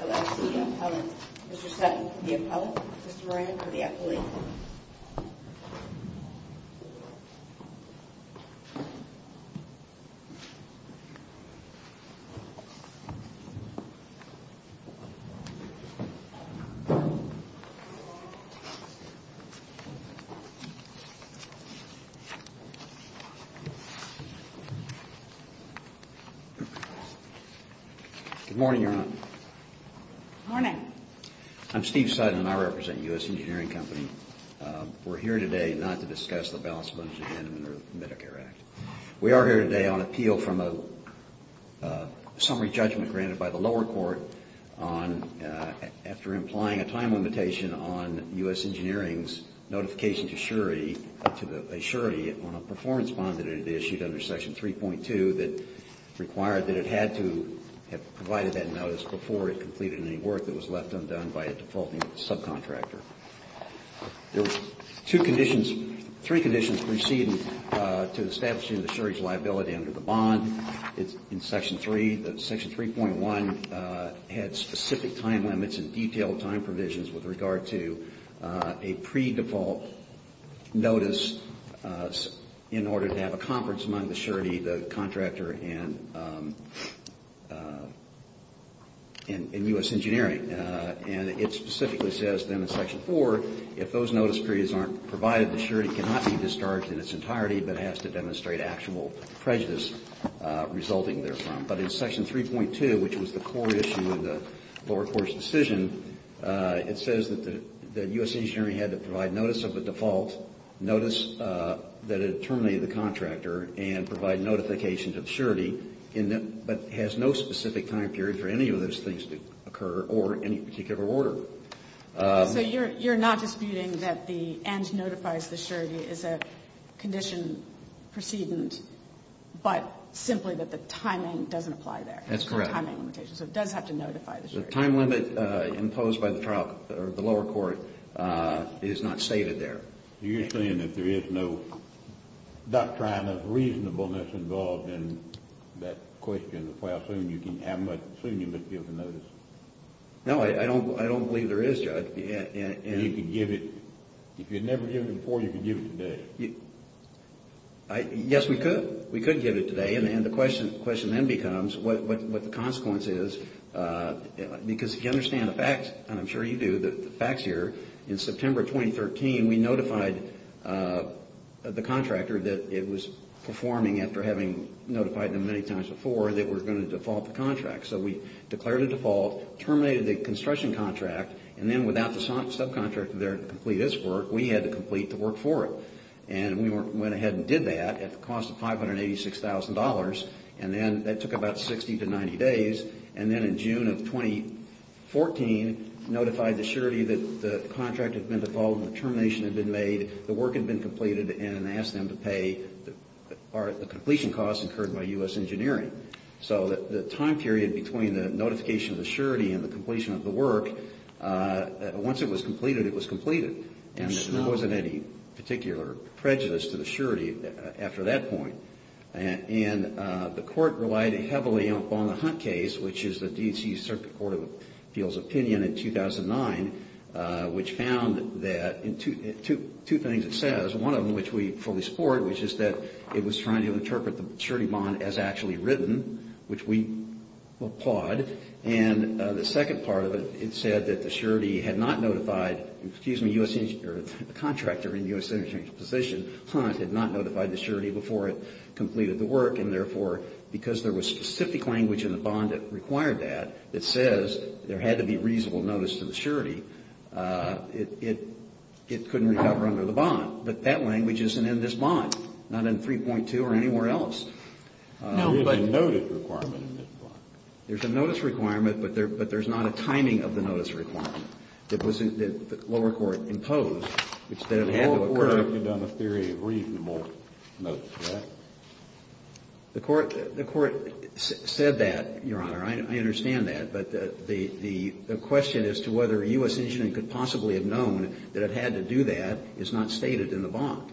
LLC Appellant. Mr. Sutton, the appellant. Mr. Moran, the appellate. Good morning, Your Honor. Morning. I'm Steve Sutton, and I represent U.S. Engineering Company. We're here today not to discuss the balance of interest in the Medicare Act. We are here today on appeal from a summary judgment granted by the lower court on, after implying a time limitation on U.S. Engineering's notification to Surety on a performance bond that it issued under Section 3.2 that required that it had to have provided that notice before it completed any work that was left undone by a defaulting subcontractor. There were three conditions preceding to establishing the surety's liability under the bond. In Section 3, Section 3.1 had specific time limits and detailed time provisions with regard to a pre-default notice in order to have a conference among the surety, the contractor, and U.S. Engineering. And it specifically says then in Section 4, if those notice periods aren't provided, the surety cannot be discharged in its entirety, but has to demonstrate actual prejudice resulting therefrom. But in Section 3.2, which was the core issue of the lower court's decision, it says that the U.S. Engineering had to provide notice of a default, notice that it terminated the contractor, and provide notification to the surety, but has no specific time period for any of those things to occur or any particular order. So you're not disputing that the end notifies the surety as a condition precedent, but simply that the timing doesn't apply there? That's correct. So it does have to notify the surety. The time limit imposed by the trial, or the lower court, is not stated there. You're saying that there is no doctrine of reasonableness involved in that question of how soon you can have, how soon you must give the notice? No, I don't believe there is, Judge. And you can give it, if you'd never given it before, you can give it today? Yes, we could. We could give it today, and the question then becomes what the consequence is, because if you understand the facts, and I'm sure you do, the facts here, in September 2013, we notified the contractor that it was performing after having notified them many times, terminated the construction contract, and then without the subcontractor there to complete its work, we had to complete the work for it. And we went ahead and did that at the cost of $586,000, and then that took about 60 to 90 days. And then in June of 2014, notified the surety that the contract had been defaulted, the termination had been made, the work had been completed, and asked them to pay the completion costs incurred by U.S. Engineering. So the time period between the notification of the surety and the completion of the work, once it was completed, it was completed, and there wasn't any particular prejudice to the surety after that point. And the Court relied heavily upon the Hunt case, which is the D.C. Circuit Court of Appeals opinion in 2009, which found that, two things it says, one of them which we fully support, which is that it was trying to interpret the surety bond as actually written, which we applaud. And the second part of it, it said that the surety had not notified, excuse me, a contractor in U.S. Engineering's position, Hunt, had not notified the surety before it completed the work, and therefore, because there was specific language in the bond that required that that says there had to be reasonable notice to the surety, it couldn't recover under the bond. But that language isn't in this bond, not in 3.2 or anywhere else. There is a notice requirement in this bond. There's a notice requirement, but there's not a timing of the notice requirement that the lower court imposed that it had to occur. The lower court could have done a theory of reasonable notice to that. The Court said that, Your Honor. I understand that, but the question as to whether U.S. Engineering could possibly have had to do that is not stated in the bond.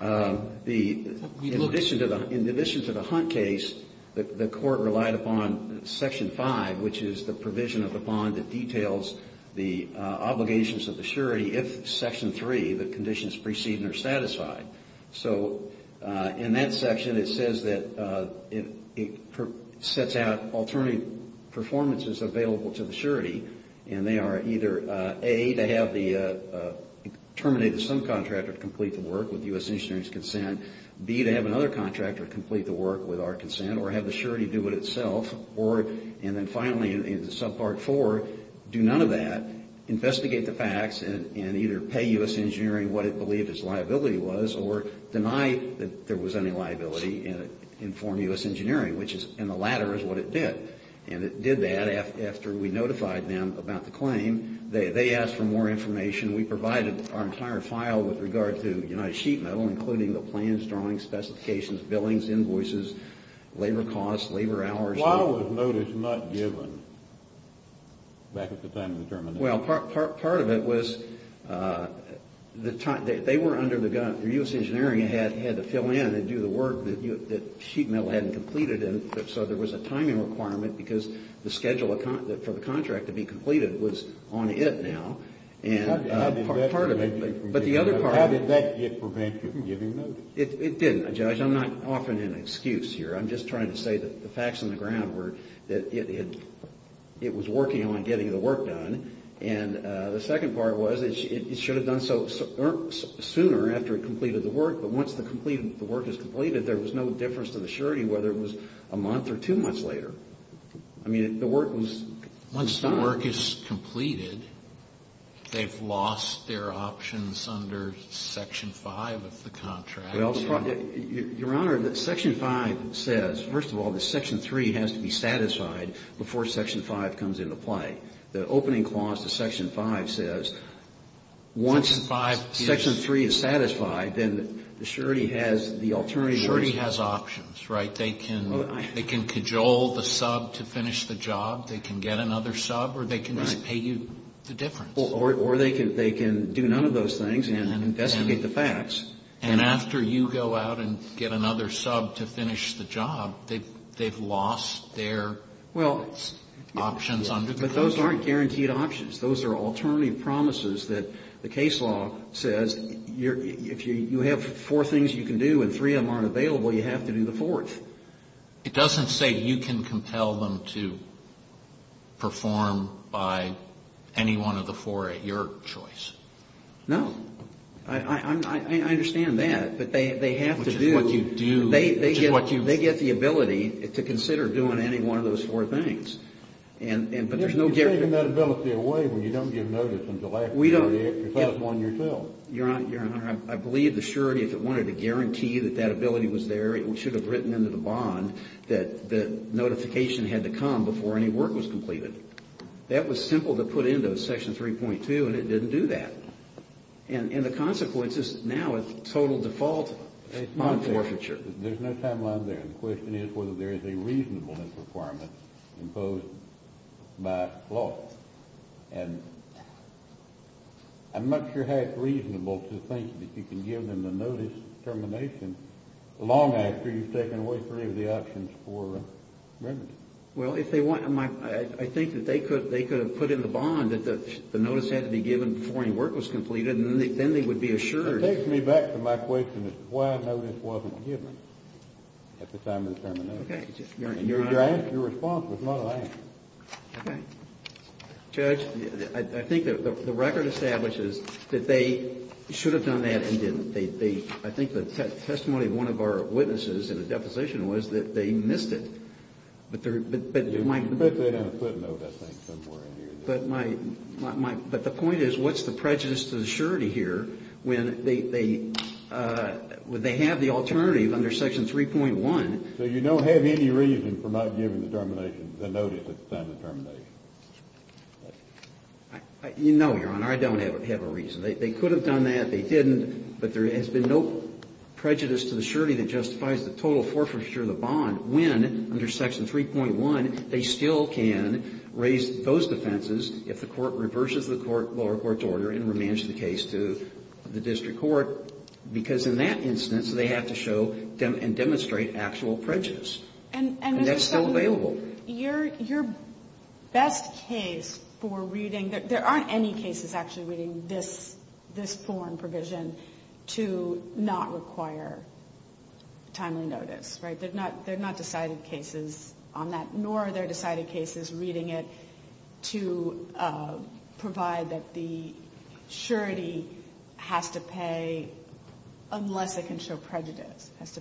In addition to the Hunt case, the Court relied upon Section 5, which is the provision of the bond that details the obligations of the surety if Section 3, the conditions preceding are satisfied. So in that section, it says that it sets out alternate performances available to the surety, and they are either, A, to have the terminated subcontractor complete the work with U.S. Engineering's consent, B, to have another contractor complete the work with our consent or have the surety do it itself, or, and then finally in Subpart 4, do none of that, investigate the facts and either pay U.S. Engineering what it believed its liability was or deny that there was any liability and inform U.S. Engineering, which is, and the latter is what it did. And it did that after we notified them about the claim. They asked for more information. We provided our entire file with regard to United Sheet Metal, including the plans, drawings, specifications, billings, invoices, labor costs, labor hours. Why was notice not given back at the time of the termination? Well, part of it was the time, they were under the gun, U.S. Engineering had to fill in and that Sheet Metal hadn't completed and so there was a timing requirement because the schedule for the contract to be completed was on it now and part of it, but the other part of it. How did that prevent you from giving notice? It didn't, Judge. I'm not offering an excuse here. I'm just trying to say that the facts on the ground were that it was working on getting the work done and the second part was it should have done so sooner after it completed the work is completed, there was no difference to the surety whether it was a month or two months later. I mean, the work was done. Once the work is completed, they've lost their options under Section 5 of the contract? Well, Your Honor, Section 5 says, first of all, that Section 3 has to be satisfied before Section 5 comes into play. The opening clause to Section 5 says once Section 3 is satisfied, then the surety has the alternative. Surety has options, right? They can cajole the sub to finish the job, they can get another sub or they can just pay you the difference. Or they can do none of those things and investigate the facts. And after you go out and get another sub to finish the job, they've lost their options under the contract. But those aren't guaranteed options. Those are alternative promises that the case law says if you have four things you can do and three of them aren't available, you have to do the fourth. It doesn't say you can compel them to perform by any one of the four at your choice. No. I understand that. But they have to do. Which is what you do. They get the ability to consider doing any one of those four things. But there's no guarantee. You're giving that ability away when you don't give notice until after you do it. We don't. You're satisfying yourself. Your Honor, I believe the surety, if it wanted to guarantee that that ability was there, it should have written into the bond that the notification had to come before any work was completed. That was simple to put into Section 3.2 and it didn't do that. And the consequence is now it's total default on forfeiture. There's no timeline there. The question is whether there is a reasonableness requirement imposed by law. And I'm not sure how it's reasonable to think that you can give them the notice termination long after you've taken away three of the options for remedy. Well, if they want, I think that they could have put in the bond that the notice had to be given before any work was completed and then they would be assured. It takes me back to my question as to why notice wasn't given at the time of the termination. Your response was not an answer. Okay. Judge, I think the record establishes that they should have done that and didn't. I think the testimony of one of our witnesses in the deposition was that they missed it. You put that in a footnote, I think, somewhere in here. But the point is, what's the prejudice to the surety here when they have the alternative under Section 3.1? So you don't have any reason for not giving the termination, the notice at the time of the termination? No, Your Honor. I don't have a reason. They could have done that. They didn't. But there has been no prejudice to the surety that justifies the total forfeiture of the bond when, under Section 3.1, they still can raise those defenses if the Court reverses the lower court's order and remands the case to the district court, because in that instance, they have to show and demonstrate actual prejudice. And that's still available. Your best case for reading, there aren't any cases actually reading this form provision to not require timely notice, right? There are not decided cases on that, nor are there decided cases reading it to provide that the surety has to pay unless it can show prejudice, has to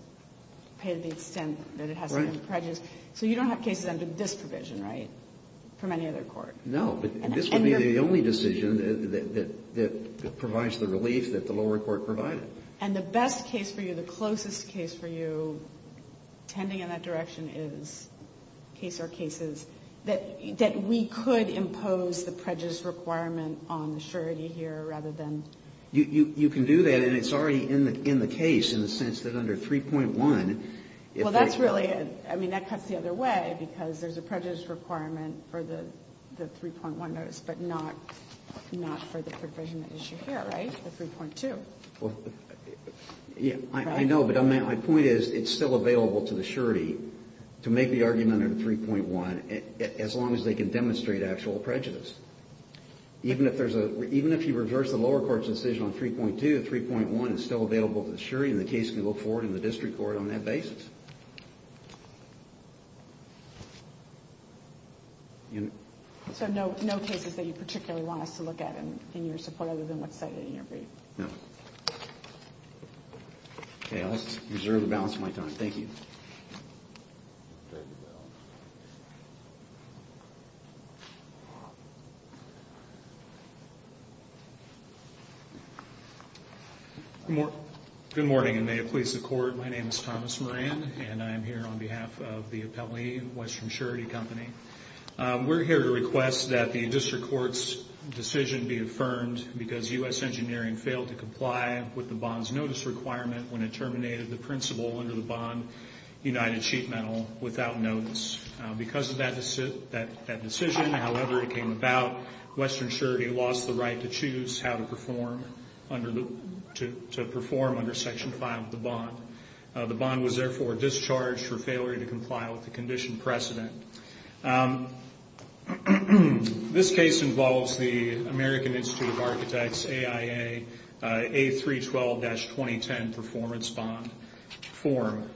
pay to the extent that it has to show prejudice. So you don't have cases under this provision, right, from any other court? No. This would be the only decision that provides the relief that the lower court provided. And the best case for you, the closest case for you, tending in that direction, is case or cases that we could impose the prejudice requirement on the surety here rather than... You can do that, and it's already in the case in the sense that under 3.1... Well, that's really it. I mean, that cuts the other way, because there's a prejudice requirement for the 3.1 notice, but not for the provision that you should hear, right? The 3.2. I know, but my point is it's still available to the surety to make the argument under 3.1 as long as they can demonstrate actual prejudice. Even if you reverse the lower court's decision on 3.2, 3.1 is still available to the surety, and the case can go forward in the district court on that basis. So no cases that you particularly want us to look at in your support other than what's cited in your brief? No. Okay, I'll just reserve the balance of my time. Thank you. Thank you, Bill. Good morning, and may it please the court. My name is Thomas Moran, and I am here on behalf of the appellee, Western Surety Company. We're here to request that the district court's decision be affirmed because U.S. engineering failed to comply with the bond's notice requirement when it terminated the principal under the bond united sheet metal without notice. Because of that decision, however it came about, Western Surety lost the right to choose how to perform under Section 5 of the bond. The bond was therefore discharged for failure to comply with the condition precedent. This case involves the American Institute of Architects AIA A312-2010 performance bond form.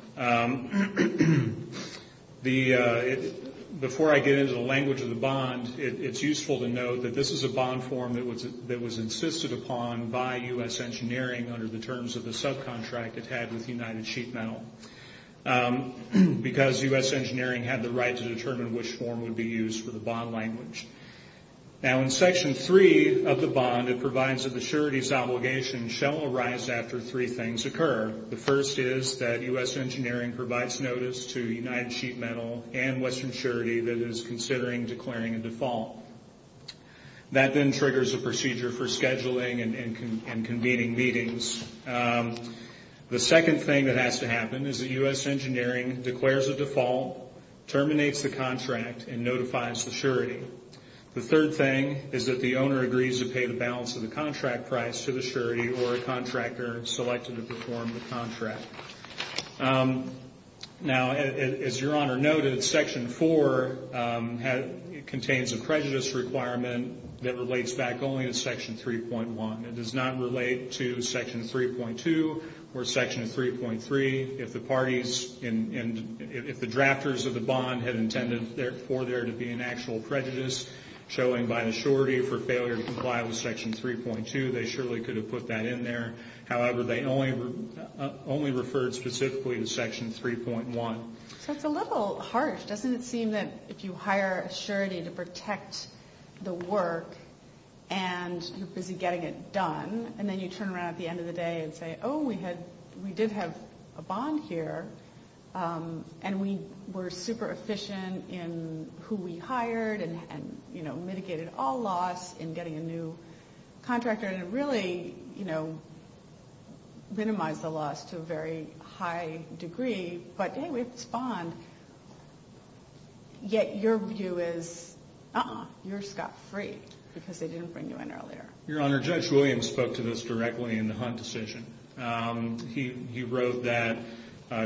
Before I get into the language of the bond, it's useful to note that this is a bond form that was insisted upon by U.S. engineering under the terms of the subcontract it had with united sheet metal. Because U.S. engineering had the right to determine which form would be used for the bond language. Now in Section 3 of the bond, it provides that the surety's obligation shall arise after three things occur. The first is that U.S. engineering provides notice to united sheet metal and Western Surety that it is considering declaring a default. That then triggers a procedure for scheduling and convening meetings. The second thing that has to happen is that U.S. engineering declares a default, terminates the contract, and notifies the surety. The third thing is that the owner agrees to pay the balance of the contract price to the surety or a contractor selected to perform the contract. Now as your honor noted, Section 4 contains a prejudice requirement that relates back only to Section 3.1. It does not relate to Section 3.2 or Section 3.3. If the parties, if the drafters of the bond had intended for there to be an actual prejudice showing by the surety for failure to comply with Section 3.2, they surely could have put that in there. However, they only referred specifically to Section 3.1. So it's a little harsh. Doesn't it seem that if you hire a surety to protect the work and you're busy getting it done and then you turn around at the end of the day and say, oh, we did have a bond here and we were super efficient in who we hired and mitigated all loss in getting a new contractor and it really minimized the loss to a very high degree. But hey, we have this bond. Yet your view is, uh-uh, you're scot-free because they didn't bring you in earlier. Your honor, Judge Williams spoke to this directly in the Hunt decision. He wrote that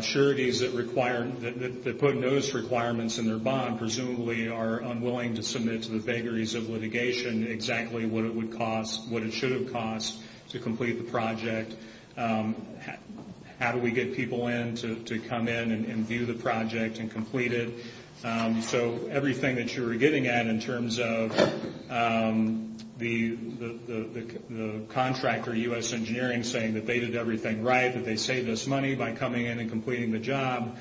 sureties that put notice requirements in their bond presumably are unwilling to submit to the vagaries of litigation exactly what it would cost, what it should have cost to complete the project. How do we get people in to come in and view the project and complete it? So everything that you were getting at in terms of the contractor, U.S. Engineering, saying that they did everything right, that they saved us money by coming in and completing the job,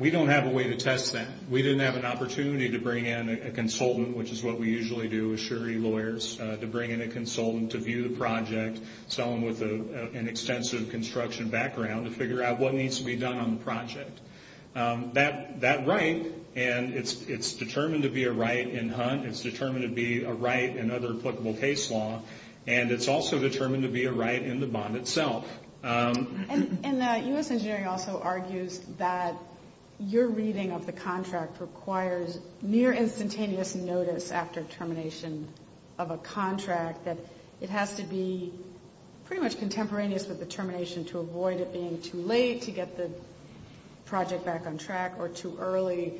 we don't have a way to test that. We didn't have an opportunity to bring in a consultant, which is what we usually do with surety lawyers, to bring in a consultant to view the project, someone with an extensive construction background to figure out what needs to be done on the project. That right, and it's determined to be a right in Hunt, it's determined to be a right in other applicable case law, and it's also determined to be a right in the bond itself. And U.S. Engineering also argues that your reading of the contract requires near instantaneous notice after termination of a contract, that it has to be pretty much contemporaneous with the termination to avoid it being too late to get the project back on track or too early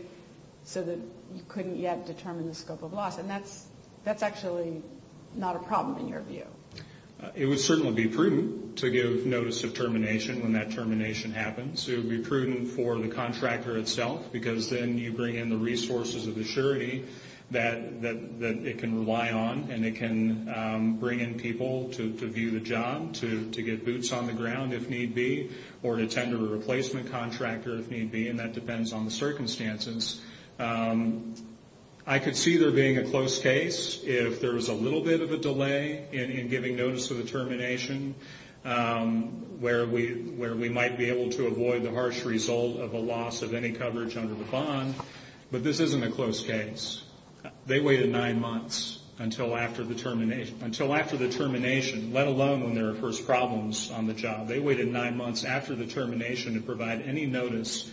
so that you couldn't yet determine the scope of loss. And that's actually not a problem in your view. It would certainly be prudent to give notice of termination when that termination happens. It would be prudent for the contractor itself, because then you bring in the resources of the surety that it can rely on, and it can bring in people to view the job, to get boots on the ground if need be, or to tend to a replacement contractor if need be, and that depends on the circumstances. I could see there being a close case if there was a little bit of a delay in giving notice of the termination where we might be able to avoid the harsh result of a loss of any coverage under the bond, but this isn't a close case. They waited nine months until after the termination, let alone when there were first problems on the job. They waited nine months after the termination to provide any notice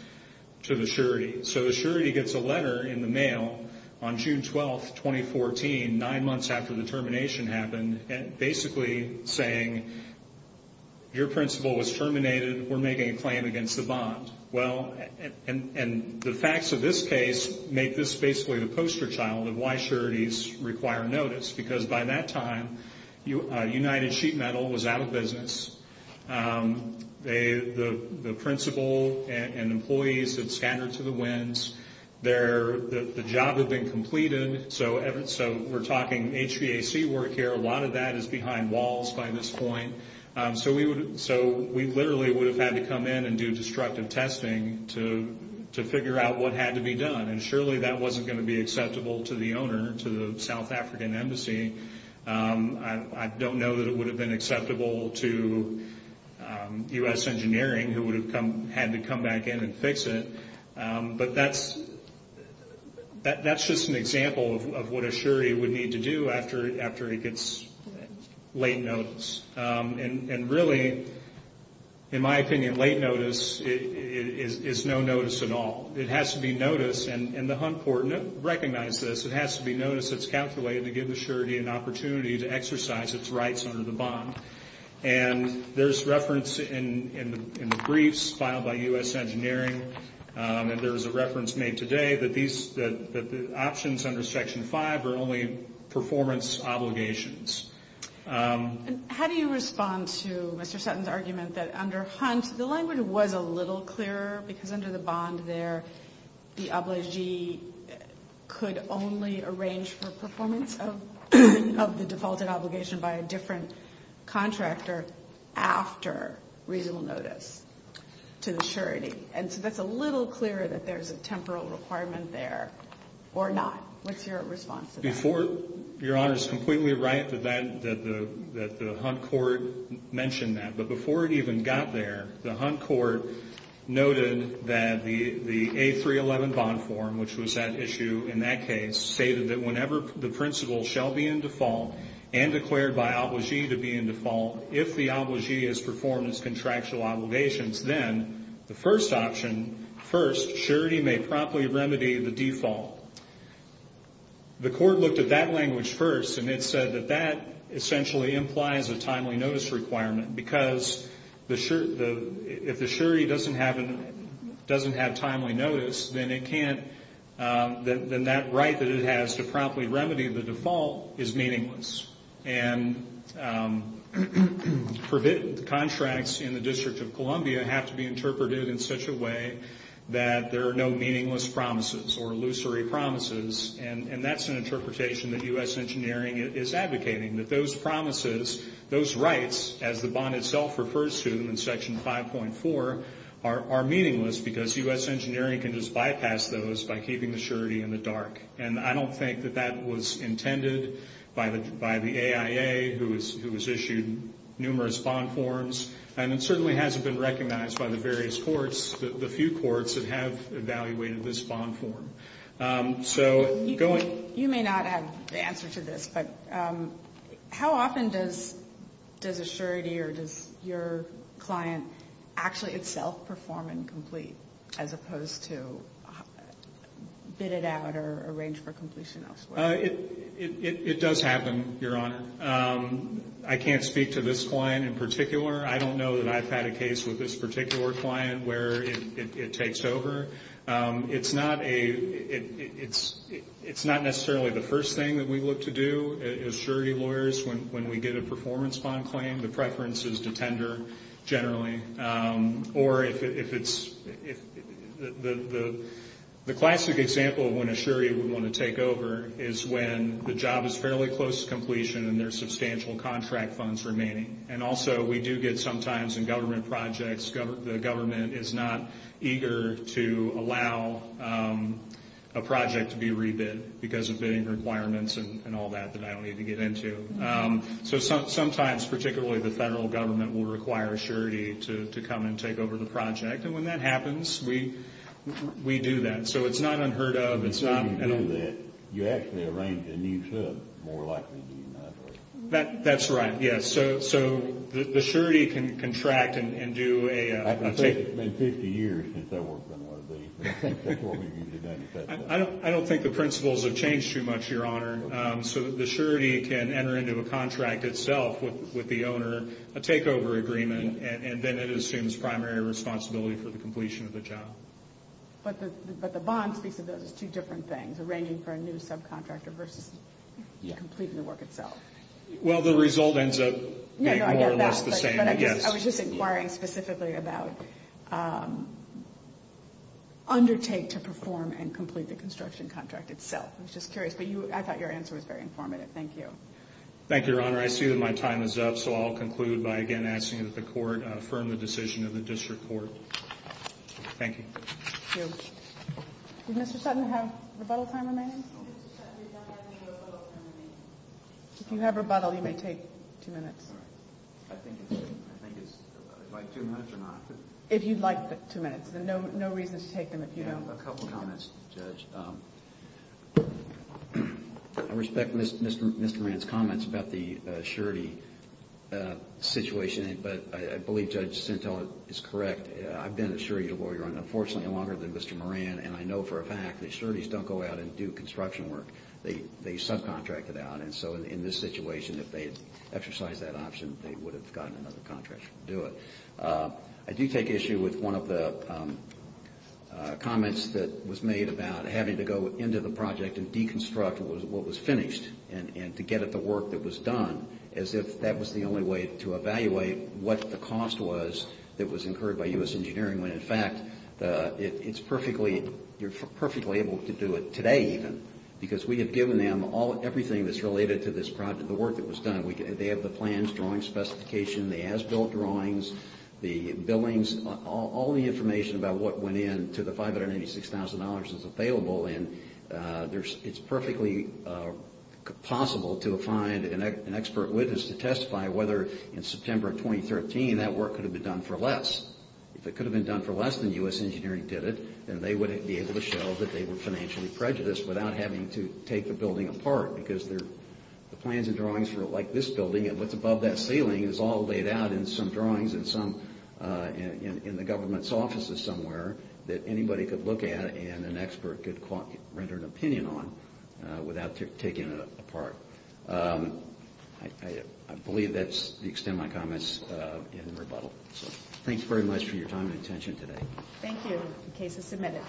to the surety. So the surety gets a letter in the mail on June 12, 2014, nine months after the termination happened, basically saying, your principal was terminated. We're making a claim against the bond. The facts of this case make this basically the poster child of why sureties require notice, because by that time United Sheet Metal was out of business. The principal and employees had scattered to the winds. The job had been completed, so we're talking HVAC work here. A lot of that is behind walls by this point. So we literally would have had to come in and do destructive testing to figure out what had to be done, and surely that wasn't going to be acceptable to the owner, to the South African Embassy. I don't know that it would have been acceptable to U.S. Engineering, who would have had to come back in and fix it. But that's just an example of what a surety would need to do after it gets late notice. And really, in my opinion, late notice is no notice at all. It has to be notice, and the Hunt Court recognized this, it has to be notice that's calculated to give the surety an opportunity to exercise its rights under the bond. And there's reference in the briefs filed by U.S. Engineering, and there's a reference made today that the options under Section 5 are only performance obligations. How do you respond to Mr. Sutton's argument that under Hunt, the language was a little clearer because under the bond there, the obligee could only arrange for performance of the defaulted obligation by a different contractor after reasonable notice to the surety. And so that's a little clearer that there's a temporal requirement there or not. What's your response to that? Your Honor is completely right that the Hunt Court mentioned that. But before it even got there, the Hunt Court noted that the A311 bond form, which was at issue in that case, stated that whenever the principal shall be in default and declared by obligee to be in default, if the obligee has performed its contractual obligations, then the first option, first, surety may promptly remedy the default. The Court looked at that language first, and it said that that essentially implies a timely notice requirement because if the surety doesn't have timely notice, then that right that it has to promptly remedy the default is meaningless. And contracts in the District of Columbia have to be interpreted in such a way that there are no meaningless promises or illusory promises, and that's an interpretation that U.S. Engineering is advocating, that those promises, those rights, as the bond itself refers to in Section 5.4, are meaningless because U.S. Engineering can just bypass those by keeping the surety in the dark. And I don't think that that was intended by the AIA, who has issued numerous bond forms, and it certainly hasn't been recognized by the various courts, the few courts that have evaluated this bond form. You may not have the answer to this, but how often does a surety or does your client actually itself perform incomplete as opposed to bid it out or arrange for completion elsewhere? It does happen, Your Honor. I can't speak to this client in particular. I don't know that I've had a case with this particular client where it takes over. It's not necessarily the first thing that we look to do as surety lawyers when we get a performance bond claim. The preference is to tender generally. Or if it's the classic example of when a surety would want to take over is when the job is fairly close to completion and there are substantial contract funds remaining. And also we do get sometimes in government projects, the government is not eager to allow a project to be rebid because of bidding requirements and all that that I don't need to get into. So sometimes, particularly the federal government, will require a surety to come and take over the project. And when that happens, we do that. So it's not unheard of. You actually arrange a new sub, more likely than not. That's right, yes. So the surety can contract and do a takeover. It's been 50 years since I worked on one of these. That's what we do today. I don't think the principles have changed too much, Your Honor. So the surety can enter into a contract itself with the owner, a takeover agreement, and then it assumes primary responsibility for the completion of the job. But the bonds piece of this is two different things, arranging for a new subcontractor versus completing the work itself. Well, the result ends up being more or less the same, I guess. I was just inquiring specifically about undertake to perform and complete the construction contract itself. I was just curious. But I thought your answer was very informative. Thank you. Thank you, Your Honor. I see that my time is up, so I'll conclude by again asking that the Court affirm the decision of the District Court. Thank you. Thank you. Does Mr. Sutton have rebuttal time remaining? If you have rebuttal, you may take two minutes. All right. I think it's like two minutes or not. If you'd like two minutes, then no reason to take them if you don't. I have a couple of comments, Judge. I respect Mr. Moran's comments about the surety situation, but I believe Judge Sintel is correct. I've been a surety lawyer, unfortunately, longer than Mr. Moran, and I know for a fact that sureties don't go out and do construction. They subcontract it out. And so in this situation, if they had exercised that option, they would have gotten another contractor to do it. I do take issue with one of the comments that was made about having to go into the project and deconstruct what was finished and to get at the work that was done, as if that was the only way to evaluate what the cost was that was incurred by U.S. Engineering, when, in fact, you're perfectly able to do it today, even, because we have given them everything that's related to this project, the work that was done. They have the plans, drawing specification, the as-built drawings, the billings, all the information about what went into the $586,000 that's available. And it's perfectly possible to find an expert witness to testify whether, in September of 2013, that work could have been done for less. If it could have been done for less than U.S. Engineering did it, then they would be able to show that they were financially prejudiced without having to take the building apart, because the plans and drawings for, like, this building and what's above that ceiling is all laid out in some drawings in the government's offices somewhere that anybody could look at and an expert could render an opinion on without taking it apart. I believe that's the extent of my comments in rebuttal. Thanks very much for your time and attention today. Thank you. The case is submitted.